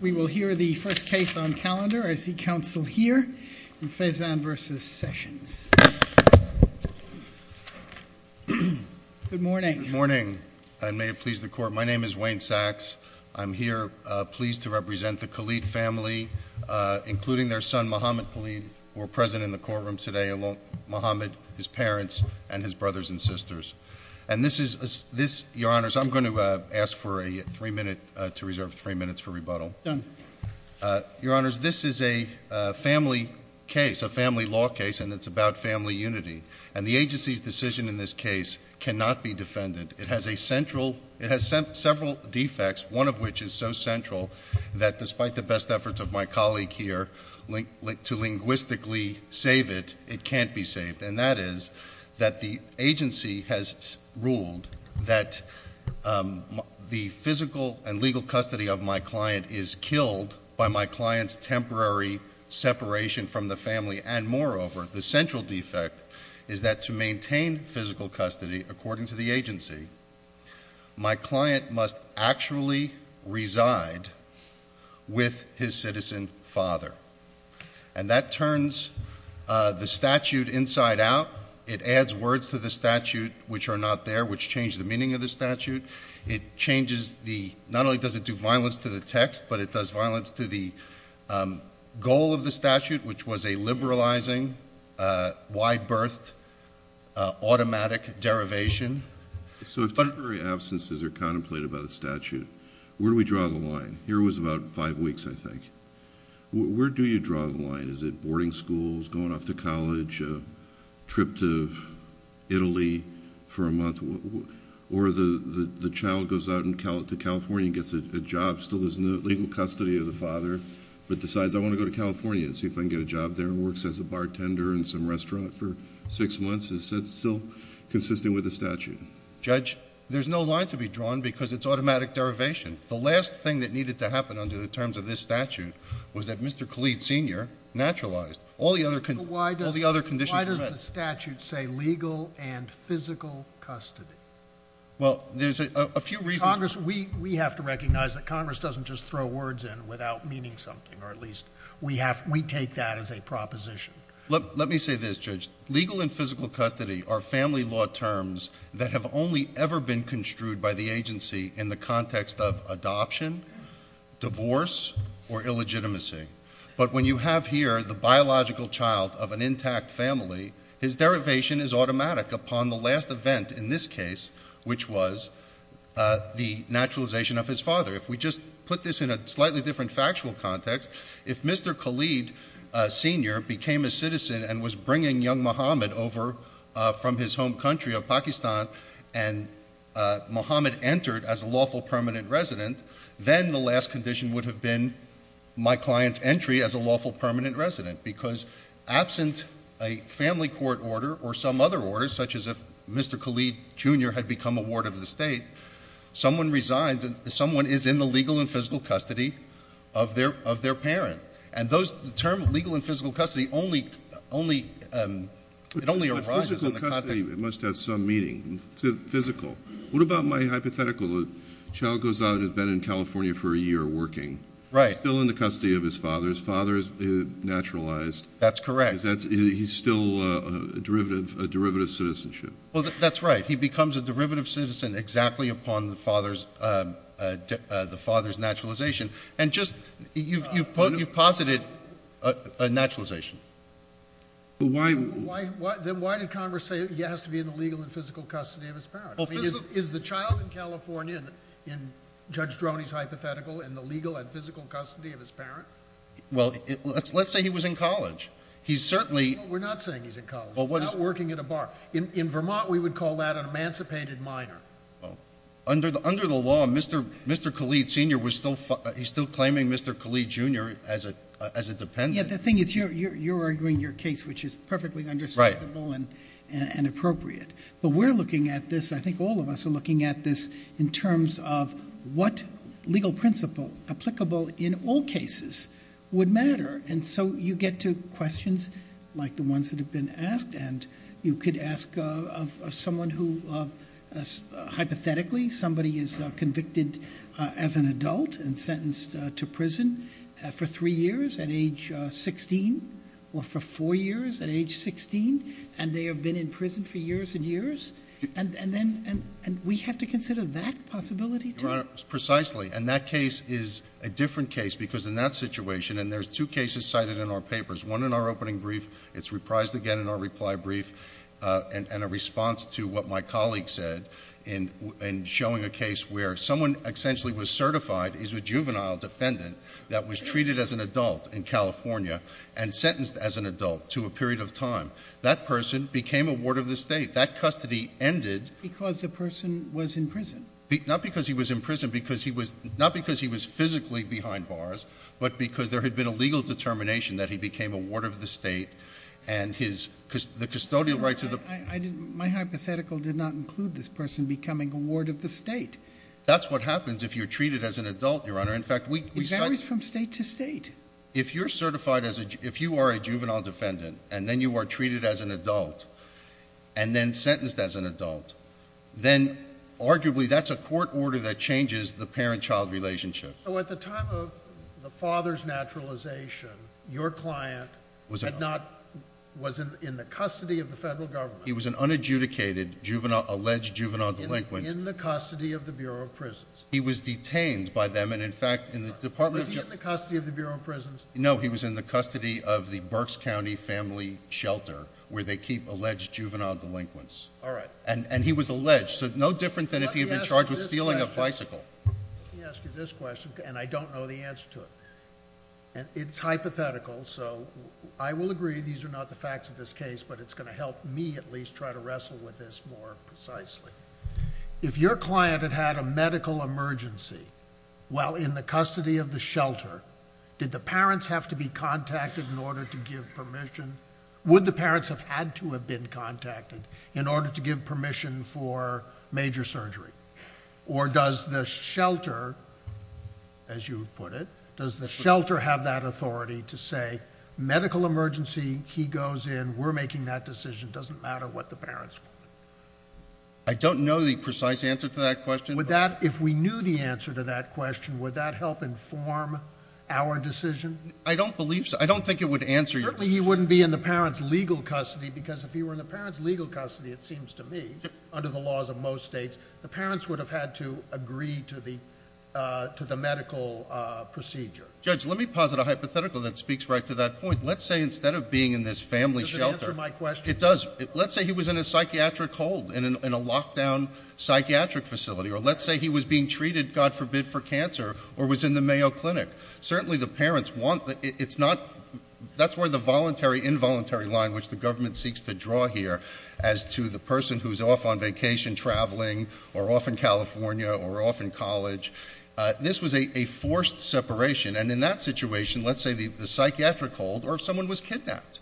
We will hear the first case on calendar. I see counsel here. Fezzan v. Sessions. Good morning. I may have pleased the court. My name is Wayne Sachs. I'm here pleased to represent the Khalid family, including their son, Mohamed Khalid, who are present in the courtroom today, along with Mohamed, his parents, and his brothers and sisters. Your Honors, I'm going to ask to reserve three minutes for rebuttal. Done. Your Honors, this is a family case, a family law case, and it's about family unity. And the agency's decision in this case cannot be defended. It has several defects, one of which is so central that despite the best efforts of my colleague here to linguistically save it, it can't be saved. And that is that the agency has ruled that the physical and legal custody of my client is killed by my client's temporary separation from the family. And moreover, the central defect is that to maintain physical custody, according to the agency, my client must actually reside with his citizen father. And that turns the statute inside out. It adds words to the statute which are not there, which change the meaning of the statute. It changes the – not only does it do violence to the text, but it does violence to the goal of the statute, which was a liberalizing, wide-berthed, automatic derivation. So if temporary absences are contemplated by the statute, where do we draw the line? Here it was about five weeks, I think. Where do you draw the line? Is it boarding schools, going off to college, a trip to Italy for a month, or the child goes out to California and gets a job, still is in the legal custody of the father, but decides, I want to go to California and see if I can get a job there and works as a bartender in some restaurant for six months? Is that still consistent with the statute? Judge, there's no line to be drawn because it's automatic derivation. The last thing that needed to happen under the terms of this statute was that Mr. Khalid, Sr. naturalized. All the other conditions were met. Why does the statute say legal and physical custody? Well, there's a few reasons. Congress, we have to recognize that Congress doesn't just throw words in without meaning something, or at least we take that as a proposition. Let me say this, Judge. Legal and physical custody are family law terms that have only ever been construed by the agency in the context of adoption, divorce, or illegitimacy. But when you have here the biological child of an intact family, his derivation is automatic upon the last event in this case, which was the naturalization of his father. If we just put this in a slightly different factual context, if Mr. Khalid, Sr. became a citizen and was bringing young Muhammad over from his home country of Pakistan and Muhammad entered as a lawful permanent resident, then the last condition would have been my client's entry as a lawful permanent resident because absent a family court order or some other order, such as if Mr. Khalid, Jr. had become a ward of the state, someone is in the legal and physical custody of their parent. And the term legal and physical custody, it only arises in the context— But physical custody must have some meaning. Physical. What about my hypothetical? The child goes out and has been in California for a year working. Right. Still in the custody of his father. His father is naturalized. That's correct. He's still a derivative citizenship. Well, that's right. He becomes a derivative citizen exactly upon the father's naturalization. And just—you've posited a naturalization. But why— Then why did Congress say he has to be in the legal and physical custody of his parent? Is the child in California, in Judge Droney's hypothetical, in the legal and physical custody of his parent? Well, let's say he was in college. He's certainly— We're not saying he's in college. He's out working at a bar. In Vermont, we would call that an emancipated minor. Under the law, Mr. Khalid, Sr. was still—he's still claiming Mr. Khalid, Jr. as a dependent. Yeah, the thing is you're arguing your case, which is perfectly understandable and appropriate. But we're looking at this—I think all of us are looking at this in terms of what legal principle applicable in all cases would matter. And so you get to questions like the ones that have been asked. And you could ask someone who, hypothetically, somebody is convicted as an adult and sentenced to prison for three years at age 16 or for four years at age 16. And they have been in prison for years and years. And then—and we have to consider that possibility, too? Your Honor, precisely. And that case is a different case because in that situation—and there's two cases cited in our papers. One in our opening brief. It's reprised again in our reply brief. And a response to what my colleague said in showing a case where someone essentially was certified as a juvenile defendant that was treated as an adult in California and sentenced as an adult to a period of time. That person became a ward of the state. That custody ended— Because the person was in prison. Not because he was in prison. Not because he was physically behind bars, but because there had been a legal determination that he became a ward of the state and his—the custodial rights of the— My hypothetical did not include this person becoming a ward of the state. That's what happens if you're treated as an adult, Your Honor. In fact, we— It varies from state to state. If you're certified as a—if you are a juvenile defendant and then you are treated as an adult and then sentenced as an adult, then arguably that's a court order that changes the parent-child relationship. So at the time of the father's naturalization, your client was in the custody of the federal government. He was an unadjudicated juvenile—alleged juvenile delinquent. In the custody of the Bureau of Prisons. He was detained by them. Was he in the custody of the Bureau of Prisons? No, he was in the custody of the Berks County Family Shelter where they keep alleged juvenile delinquents. All right. And he was alleged. So no different than if he had been charged with stealing a bicycle. Let me ask you this question, and I don't know the answer to it. It's hypothetical, so I will agree these are not the facts of this case, but it's going to help me at least try to wrestle with this more precisely. If your client had had a medical emergency while in the custody of the shelter, did the parents have to be contacted in order to give permission? Would the parents have had to have been contacted in order to give permission for major surgery? Or does the shelter, as you put it, does the shelter have that authority to say, medical emergency, he goes in, we're making that decision, doesn't matter what the parents want? I don't know the precise answer to that question. Would that, if we knew the answer to that question, would that help inform our decision? I don't believe so. I don't think it would answer your question. Certainly he wouldn't be in the parents' legal custody because if he were in the parents' legal custody, it seems to me, under the laws of most states, the parents would have had to agree to the medical procedure. Judge, let me posit a hypothetical that speaks right to that point. Let's say instead of being in this family shelter. Does it answer my question? It does. Let's say he was in a psychiatric hold, in a lockdown psychiatric facility, or let's say he was being treated, God forbid, for cancer, or was in the Mayo Clinic. Certainly the parents want, it's not, that's where the voluntary, involuntary line, which the government seeks to draw here, as to the person who's off on vacation, traveling, or off in California, or off in college. This was a forced separation, and in that situation, let's say the psychiatric hold, or if someone was kidnapped.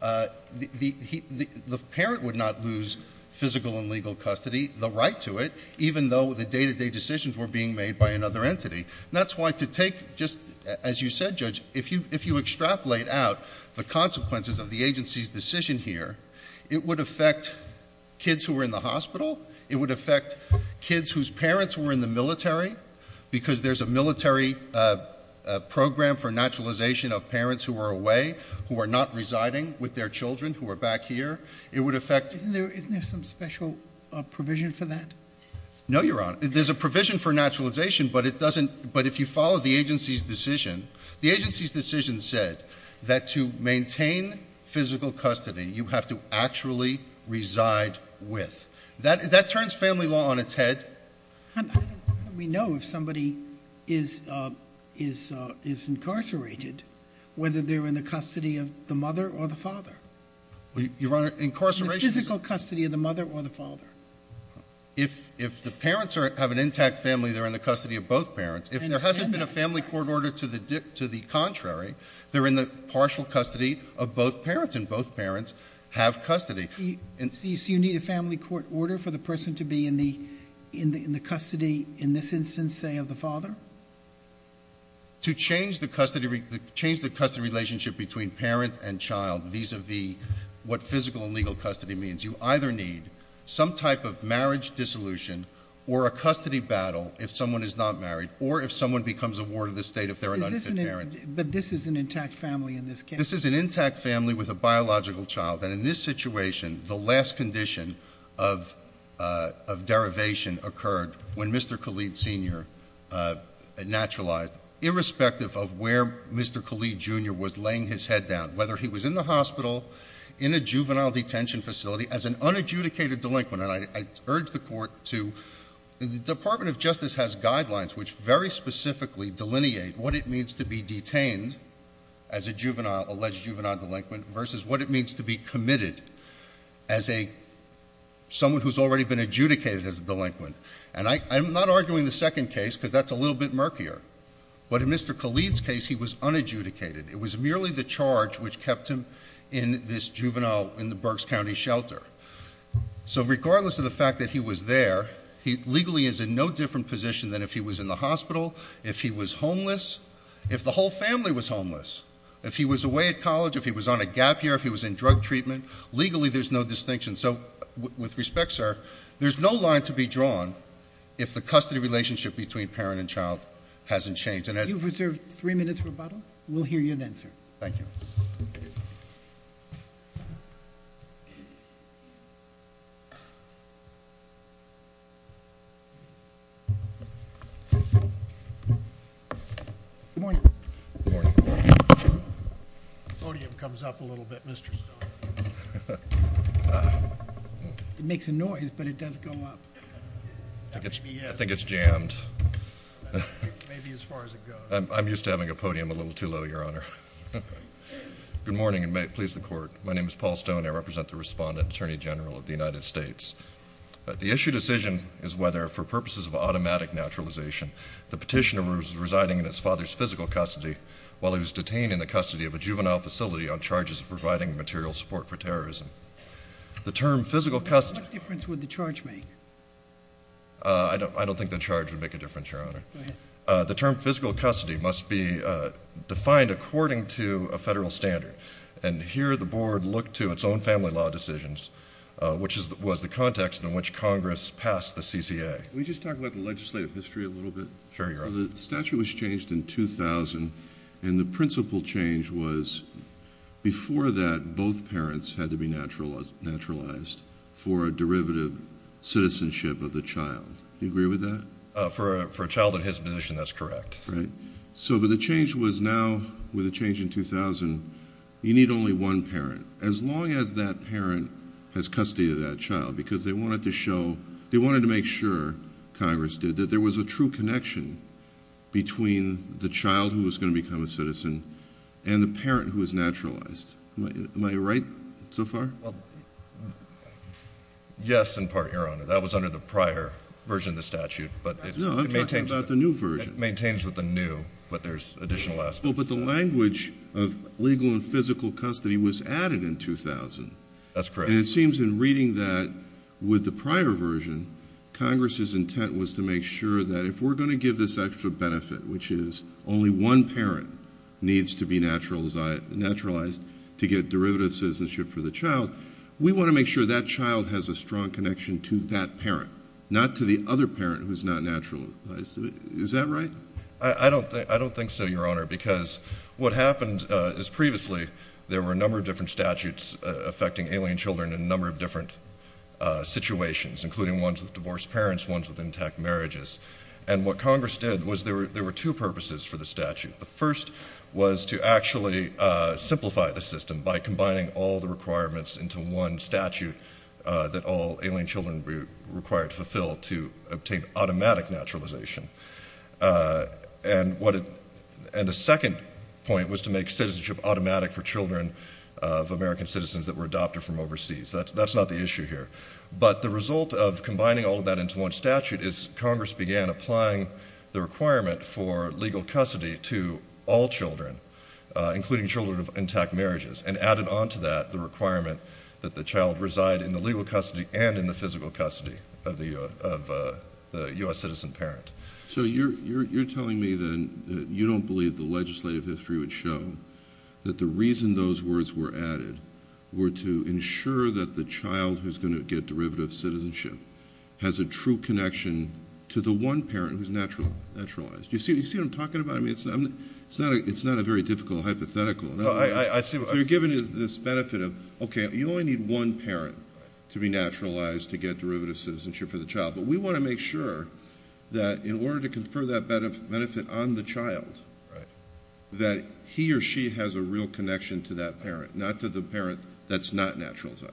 The parent would not lose physical and legal custody, the right to it, even though the day-to-day decisions were being made by another entity. That's why to take, just as you said, Judge, if you extrapolate out the consequences of the agency's decision here, it would affect kids who were in the hospital. It would affect kids whose parents were in the military, because there's a military program for naturalization of parents who are away, who are not residing with their children, who are back here. It would affect... Isn't there some special provision for that? No, Your Honor. There's a provision for naturalization, but it doesn't, but if you follow the agency's decision, the agency's decision said that to maintain physical custody, you have to actually reside with. That turns family law on its head. How do we know if somebody is incarcerated, whether they're in the custody of the mother or the father? Your Honor, incarceration... Physical custody of the mother or the father. If the parents have an intact family, they're in the custody of both parents. If there hasn't been a family court order to the contrary, they're in the partial custody of both parents, and both parents have custody. So you need a family court order for the person to be in the custody, in this instance, say, of the father? To change the custody relationship between parent and child vis-a-vis what physical and legal custody means, you either need some type of marriage dissolution or a custody battle if someone is not married, or if someone becomes a ward of the state if they're an unfit parent. But this is an intact family in this case? This is an intact family with a biological child, and in this situation, the last condition of derivation occurred when Mr. Khalid Sr. naturalized. Irrespective of where Mr. Khalid Jr. was laying his head down, whether he was in the hospital, in a juvenile detention facility, as an unadjudicated delinquent. And I urge the court to, the Department of Justice has guidelines which very specifically delineate what it means to be detained as a juvenile, alleged juvenile delinquent, versus what it means to be committed as someone who's already been adjudicated as a delinquent. And I'm not arguing the second case, because that's a little bit murkier. But in Mr. Khalid's case, he was unadjudicated. It was merely the charge which kept him in this juvenile, in the Berks County shelter. So regardless of the fact that he was there, he legally is in no different position than if he was in the hospital, if he was homeless, if the whole family was homeless. If he was away at college, if he was on a gap year, if he was in drug treatment, legally there's no distinction. So with respect, sir, there's no line to be drawn if the custody relationship between parent and child hasn't changed. You've reserved three minutes for rebuttal. We'll hear you then, sir. Thank you. Good morning. Good morning. The podium comes up a little bit, Mr. Stone. It makes a noise, but it does go up. I think it's jammed. Maybe as far as it goes. I'm used to having a podium a little too low, Your Honor. Good morning, and may it please the Court. My name is Paul Stone. I represent the Respondent Attorney General of the United States. The issue decision is whether, for purposes of automatic naturalization, the petitioner was residing in his father's physical custody while he was detained in the custody of a juvenile facility on charges of providing material support for terrorism. The term physical custody- What difference would the charge make? I don't think the charge would make a difference, Your Honor. Go ahead. The term physical custody must be defined according to a federal standard. And here the Board looked to its own family law decisions, which was the context in which Congress passed the CCA. Can we just talk about the legislative history a little bit? Sure, Your Honor. The statute was changed in 2000, and the principal change was before that, both parents had to be naturalized for a derivative citizenship of the child. Do you agree with that? For a child in his position, that's correct. But the change was now, with the change in 2000, you need only one parent, as long as that parent has custody of that child, because they wanted to make sure, Congress did, that there was a true connection between the child who was going to become a citizen and the parent who was naturalized. Am I right so far? Yes, in part, Your Honor. That was under the prior version of the statute, but it maintains- No, I'm talking about the new version. It maintains with the new, but there's additional aspects. Well, but the language of legal and physical custody was added in 2000. That's correct. And it seems in reading that with the prior version, Congress's intent was to make sure that if we're going to give this extra benefit, which is only one parent needs to be naturalized to get derivative citizenship for the child, we want to make sure that child has a strong connection to that parent, not to the other parent who's not naturalized. Is that right? I don't think so, Your Honor, because what happened is previously, there were a number of different statutes affecting alien children in a number of different situations, including ones with divorced parents, ones with intact marriages. And what Congress did was there were two purposes for the statute. The first was to actually simplify the system by combining all the requirements into one statute that all alien children were required to fulfill to obtain automatic naturalization. And the second point was to make citizenship automatic for children of American citizens that were adopted from overseas. That's not the issue here. But the result of combining all of that into one statute is Congress began applying the requirement for legal custody to all children, including children of intact marriages, and added onto that the requirement that the child reside in the legal custody and in the physical custody of the U.S. citizen parent. So you're telling me then that you don't believe the legislative history would show that the reason those words were added were to ensure that the child who's going to get derivative citizenship has a true connection to the one parent who's naturalized. Do you see what I'm talking about? I mean, it's not a very difficult hypothetical. So you're giving this benefit of, okay, you only need one parent to be naturalized to get derivative citizenship for the child. But we want to make sure that in order to confer that benefit on the child, that he or she has a real connection to that parent, not to the parent that's not naturalized.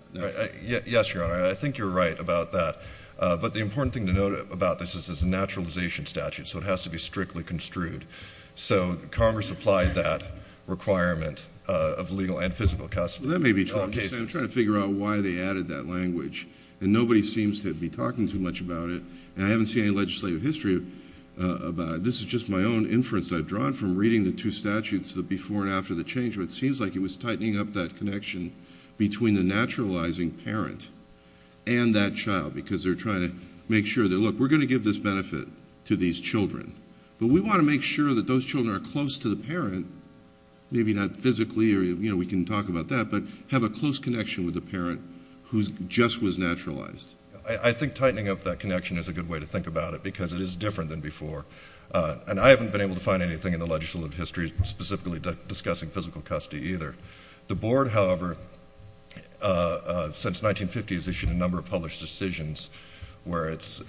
Yes, Your Honor. I think you're right about that. But the important thing to note about this is it's a naturalization statute, so it has to be strictly construed. So Congress applied that requirement of legal and physical custody. That may be true. I'm just trying to figure out why they added that language, and nobody seems to be talking too much about it, and I haven't seen any legislative history about it. This is just my own inference I've drawn from reading the two statutes, the before and after the change, where it seems like it was tightening up that connection between the naturalizing parent and that child because they're trying to make sure that, look, we're going to give this benefit to these children, but we want to make sure that those children are close to the parent, maybe not physically, or, you know, we can talk about that, but have a close connection with the parent who just was naturalized. I think tightening up that connection is a good way to think about it because it is different than before, and I haven't been able to find anything in the legislative history specifically discussing physical custody either. The board, however, since 1950, has issued a number of published decisions where it's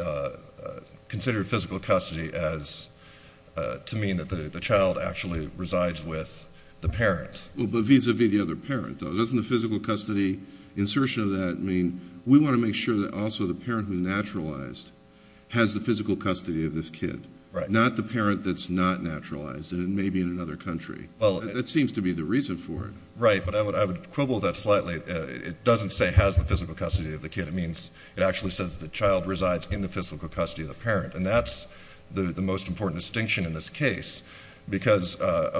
considered physical custody to mean that the child actually resides with the parent. Well, but vis-à-vis the other parent, though. Doesn't the physical custody insertion of that mean we want to make sure that also the parent who's naturalized has the physical custody of this kid, not the parent that's not naturalized, and it may be in another country? That seems to be the reason for it. Right, but I would quibble that slightly. It doesn't say has the physical custody of the kid. It means it actually says the child resides in the physical custody of the parent, and that's the most important distinction in this case because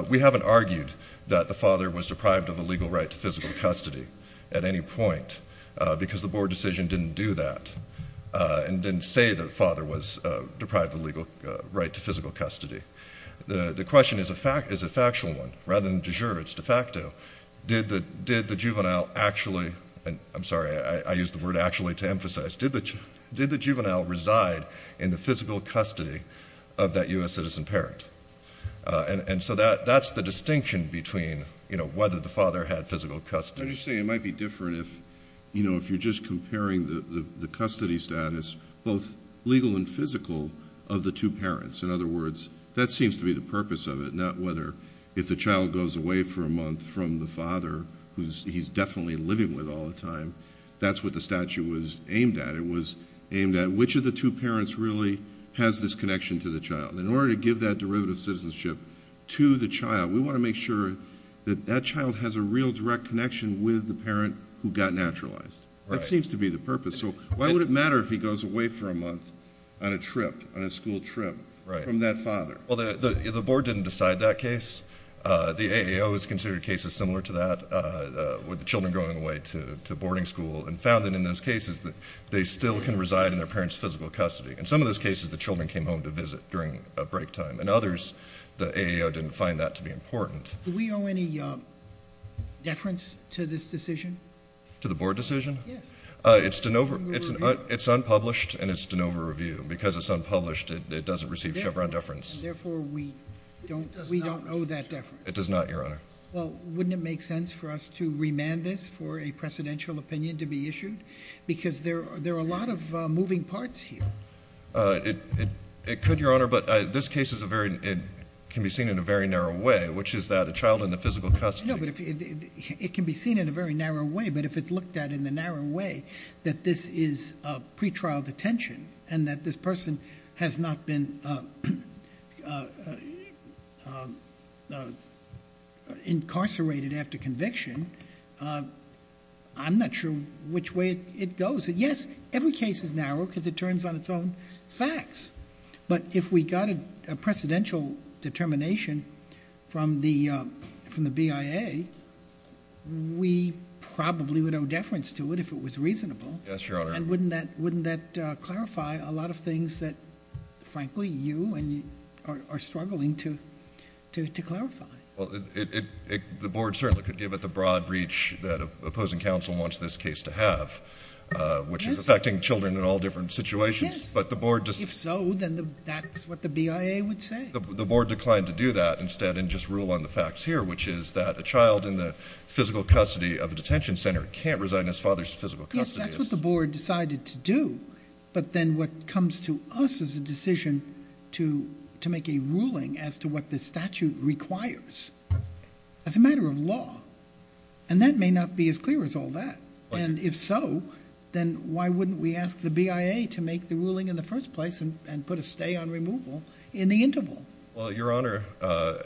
we haven't argued that the father was deprived of a legal right to physical custody at any point because the board decision didn't do that and didn't say the father was deprived of a legal right to physical custody. The question is a factual one. Rather than de jure, it's de facto. Did the juvenile actually—I'm sorry, I used the word actually to emphasize. Did the juvenile reside in the physical custody of that U.S. citizen parent? And so that's the distinction between whether the father had physical custody. Let me just say it might be different if you're just comparing the custody status, both legal and physical, of the two parents. In other words, that seems to be the purpose of it, not whether if the child goes away for a month from the father who he's definitely living with all the time. That's what the statute was aimed at. It was aimed at which of the two parents really has this connection to the child. In order to give that derivative citizenship to the child, we want to make sure that that child has a real direct connection with the parent who got naturalized. That seems to be the purpose. So why would it matter if he goes away for a month on a trip, on a school trip from that father? Well, the board didn't decide that case. The AAO has considered cases similar to that with the children going away to boarding school and found that in those cases they still can reside in their parents' physical custody. In some of those cases, the children came home to visit during break time. In others, the AAO didn't find that to be important. Do we owe any deference to this decision? To the board decision? Yes. It's unpublished and it's de novo review. Because it's unpublished, it doesn't receive Chevron deference. Therefore, we don't owe that deference. It does not, Your Honor. Well, wouldn't it make sense for us to remand this for a presidential opinion to be issued? Because there are a lot of moving parts here. It could, Your Honor, but this case can be seen in a very narrow way, which is that a child in the physical custody. It can be seen in a very narrow way, but if it's looked at in the narrow way that this is pretrial detention and that this person has not been incarcerated after conviction, I'm not sure which way it goes. Yes, every case is narrow because it turns on its own facts. But if we got a presidential determination from the BIA, we probably would owe deference to it if it was reasonable. Yes, Your Honor. And wouldn't that clarify a lot of things that, frankly, you are struggling to clarify? Well, the board certainly could give it the broad reach that opposing counsel wants this case to have, which is affecting children in all different situations. Yes. If so, then that's what the BIA would say. The board declined to do that instead and just rule on the facts here, which is that a child in the physical custody of a detention center can't reside in his father's physical custody. Yes, that's what the board decided to do. But then what comes to us is a decision to make a ruling as to what the statute requires as a matter of law. And that may not be as clear as all that. And if so, then why wouldn't we ask the BIA to make the ruling in the first place and put a stay on removal in the interval? Well, Your Honor, I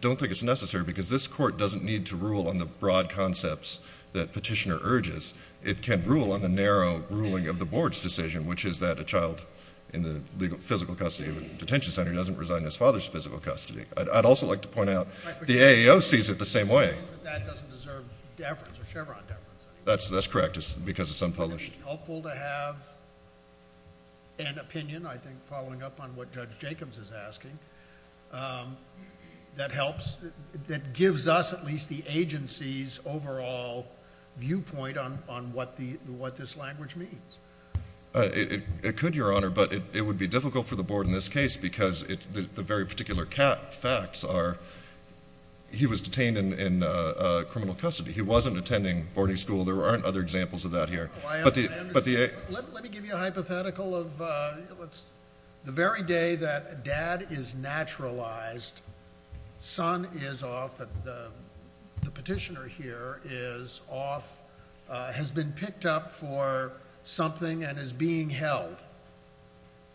don't think it's necessary because this court doesn't need to rule on the broad concepts that Petitioner urges. It can rule on the narrow ruling of the board's decision, which is that a child in the physical custody of a detention center doesn't reside in his father's physical custody. I'd also like to point out the AEO sees it the same way. That doesn't deserve deference or Chevron deference. That's correct because it's unpublished. Would it be helpful to have an opinion, I think, following up on what Judge Jacobs is asking, that gives us at least the agency's overall viewpoint on what this language means? It could, Your Honor, but it would be difficult for the board in this case because the very particular facts are he was detained in criminal custody. He wasn't attending boarding school. There aren't other examples of that here. Let me give you a hypothetical of the very day that dad is naturalized, son is off, the petitioner here is off, has been picked up for something and is being held,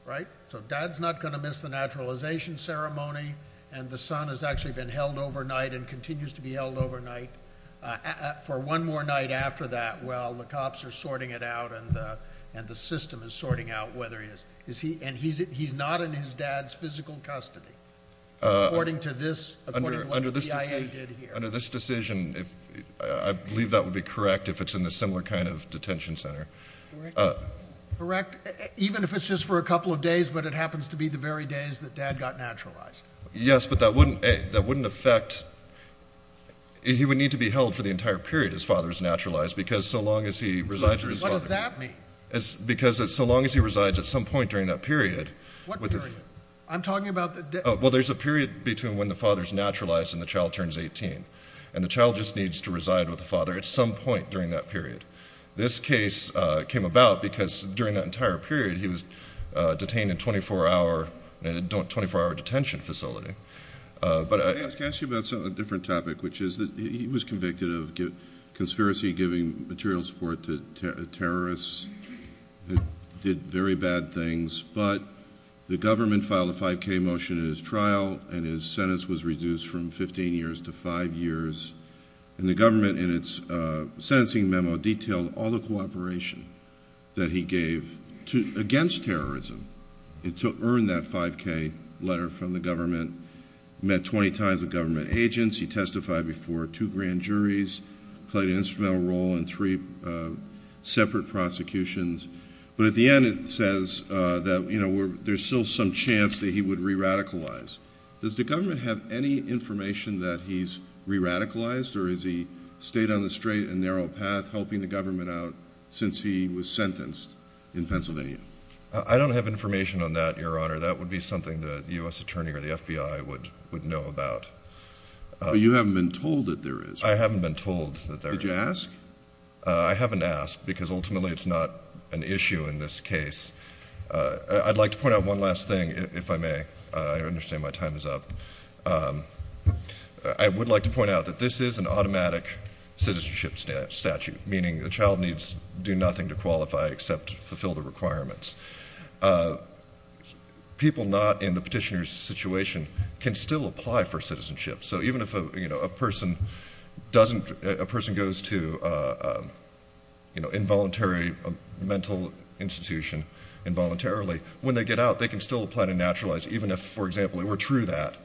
right? So dad's not going to miss the naturalization ceremony, and the son has actually been held overnight and continues to be held overnight for one more night after that while the cops are sorting it out and the system is sorting out whether he is. And he's not in his dad's physical custody, according to this, according to what the CIA did here. Under this decision, I believe that would be correct if it's in a similar kind of detention center. Correct, even if it's just for a couple of days, but it happens to be the very days that dad got naturalized. Yes, but that wouldn't affect, he would need to be held for the entire period his father is naturalized because so long as he resides with his father. What does that mean? Because so long as he resides at some point during that period. What period? I'm talking about the day. Well, there's a period between when the father is naturalized and the child turns 18, and the child just needs to reside with the father at some point during that period. This case came about because during that entire period he was detained in a 24-hour detention facility. Can I ask you about a different topic, which is that he was convicted of conspiracy, giving material support to terrorists, did very bad things, but the government filed a 5K motion in his trial and his sentence was reduced from 15 years to 5 years. And the government in its sentencing memo detailed all the cooperation that he gave against terrorism to earn that 5K letter from the government, met 20 times with government agents, he testified before two grand juries, played an instrumental role in three separate prosecutions. But at the end it says that there's still some chance that he would re-radicalize. Does the government have any information that he's re-radicalized, or has he stayed on the straight and narrow path helping the government out since he was sentenced in Pennsylvania? I don't have information on that, Your Honor. That would be something that the U.S. Attorney or the FBI would know about. But you haven't been told that there is. I haven't been told that there is. Did you ask? I haven't asked, because ultimately it's not an issue in this case. I'd like to point out one last thing, if I may. I understand my time is up. I would like to point out that this is an automatic citizenship statute, meaning the child needs do nothing to qualify except fulfill the requirements. People not in the petitioner's situation can still apply for citizenship. So even if a person goes to an involuntary mental institution involuntarily, when they get out, they can still apply to naturalize. Even if, for example, it were true that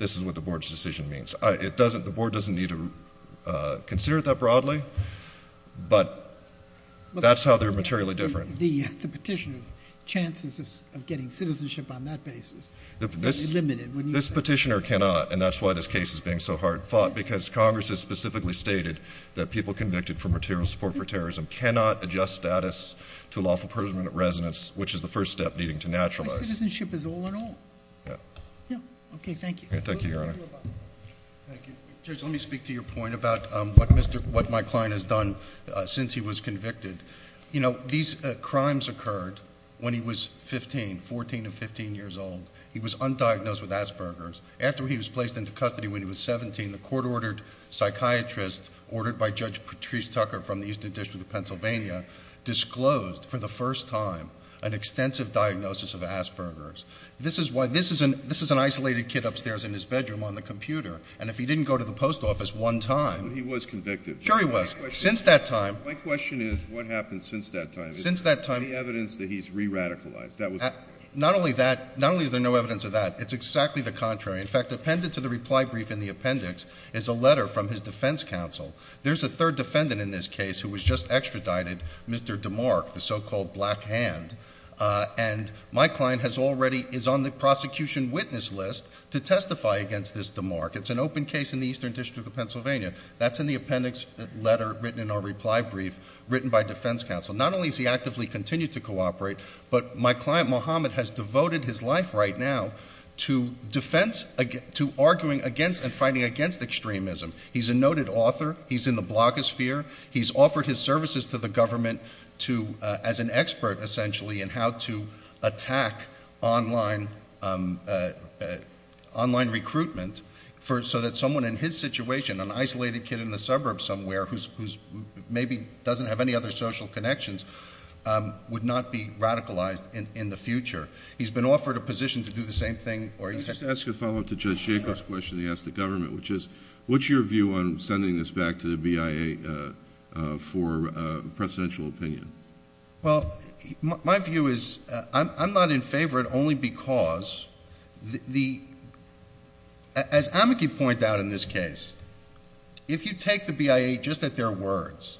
this is what the Board's decision means. The Board doesn't need to consider it that broadly, but that's how they're materially different. The petitioner's chances of getting citizenship on that basis are very limited. This petitioner cannot, and that's why this case is being so hard fought, because Congress has specifically stated that people convicted for material support for terrorism cannot adjust status to lawful imprisonment at residence, which is the first step needing to naturalize. Citizenship is all in all. Yeah. Okay, thank you. Thank you, Your Honor. Judge, let me speak to your point about what my client has done since he was convicted. You know, these crimes occurred when he was 15, 14 to 15 years old. He was undiagnosed with Asperger's. After he was placed into custody when he was 17, the court-ordered psychiatrist, ordered by Judge Patrice Tucker from the Eastern District of Pennsylvania, disclosed for the first time an extensive diagnosis of Asperger's. This is an isolated kid upstairs in his bedroom on the computer, and if he didn't go to the post office one time— But he was convicted. Sure he was. Since that time— My question is, what happened since that time? Since that time— Is there any evidence that he's re-radicalized? Not only is there no evidence of that, it's exactly the contrary. In fact, appended to the reply brief in the appendix is a letter from his defense counsel. There's a third defendant in this case who was just extradited, Mr. DeMarc, the so-called black hand, and my client is already on the prosecution witness list to testify against this DeMarc. It's an open case in the Eastern District of Pennsylvania. That's in the appendix letter written in our reply brief written by defense counsel. Not only has he actively continued to cooperate, but my client Mohammed has devoted his life right now to arguing against and fighting against extremism. He's a noted author. He's in the blogosphere. He's offered his services to the government as an expert, essentially, in how to attack online recruitment so that someone in his situation, an isolated kid in the suburb somewhere who maybe doesn't have any other social connections, would not be radicalized in the future. He's been offered a position to do the same thing. Can I just ask a follow-up to Judge Jacobs' question he asked the government, which is what's your view on sending this back to the BIA for precedential opinion? Well, my view is I'm not in favor of it only because, as Amiki pointed out in this case, if you take the BIA just at their words,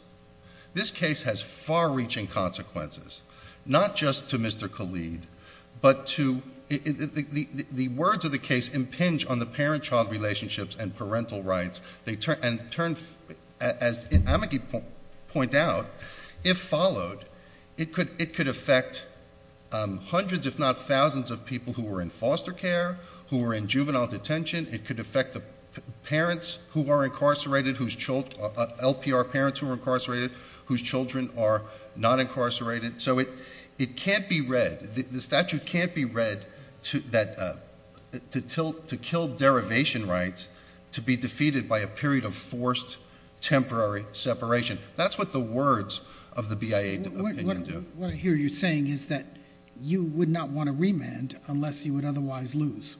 this case has far-reaching consequences, not just to Mr. Khalid, but to the words of the case impinge on the parent-child relationships and parental rights. As Amiki pointed out, if followed, it could affect hundreds, if not thousands, of people who are in foster care, who are in juvenile detention. It could affect the parents who are incarcerated, LPR parents who are incarcerated, whose children are not incarcerated. So it can't be read, the statute can't be read to kill derivation rights to be defeated by a period of forced temporary separation. That's what the words of the BIA opinion do. What I hear you saying is that you would not want to remand unless you would otherwise lose.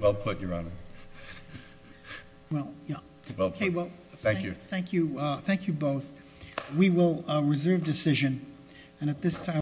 Well put, Your Honor. Well, yeah. Well put. Thank you. Thank you both. We will reserve decision.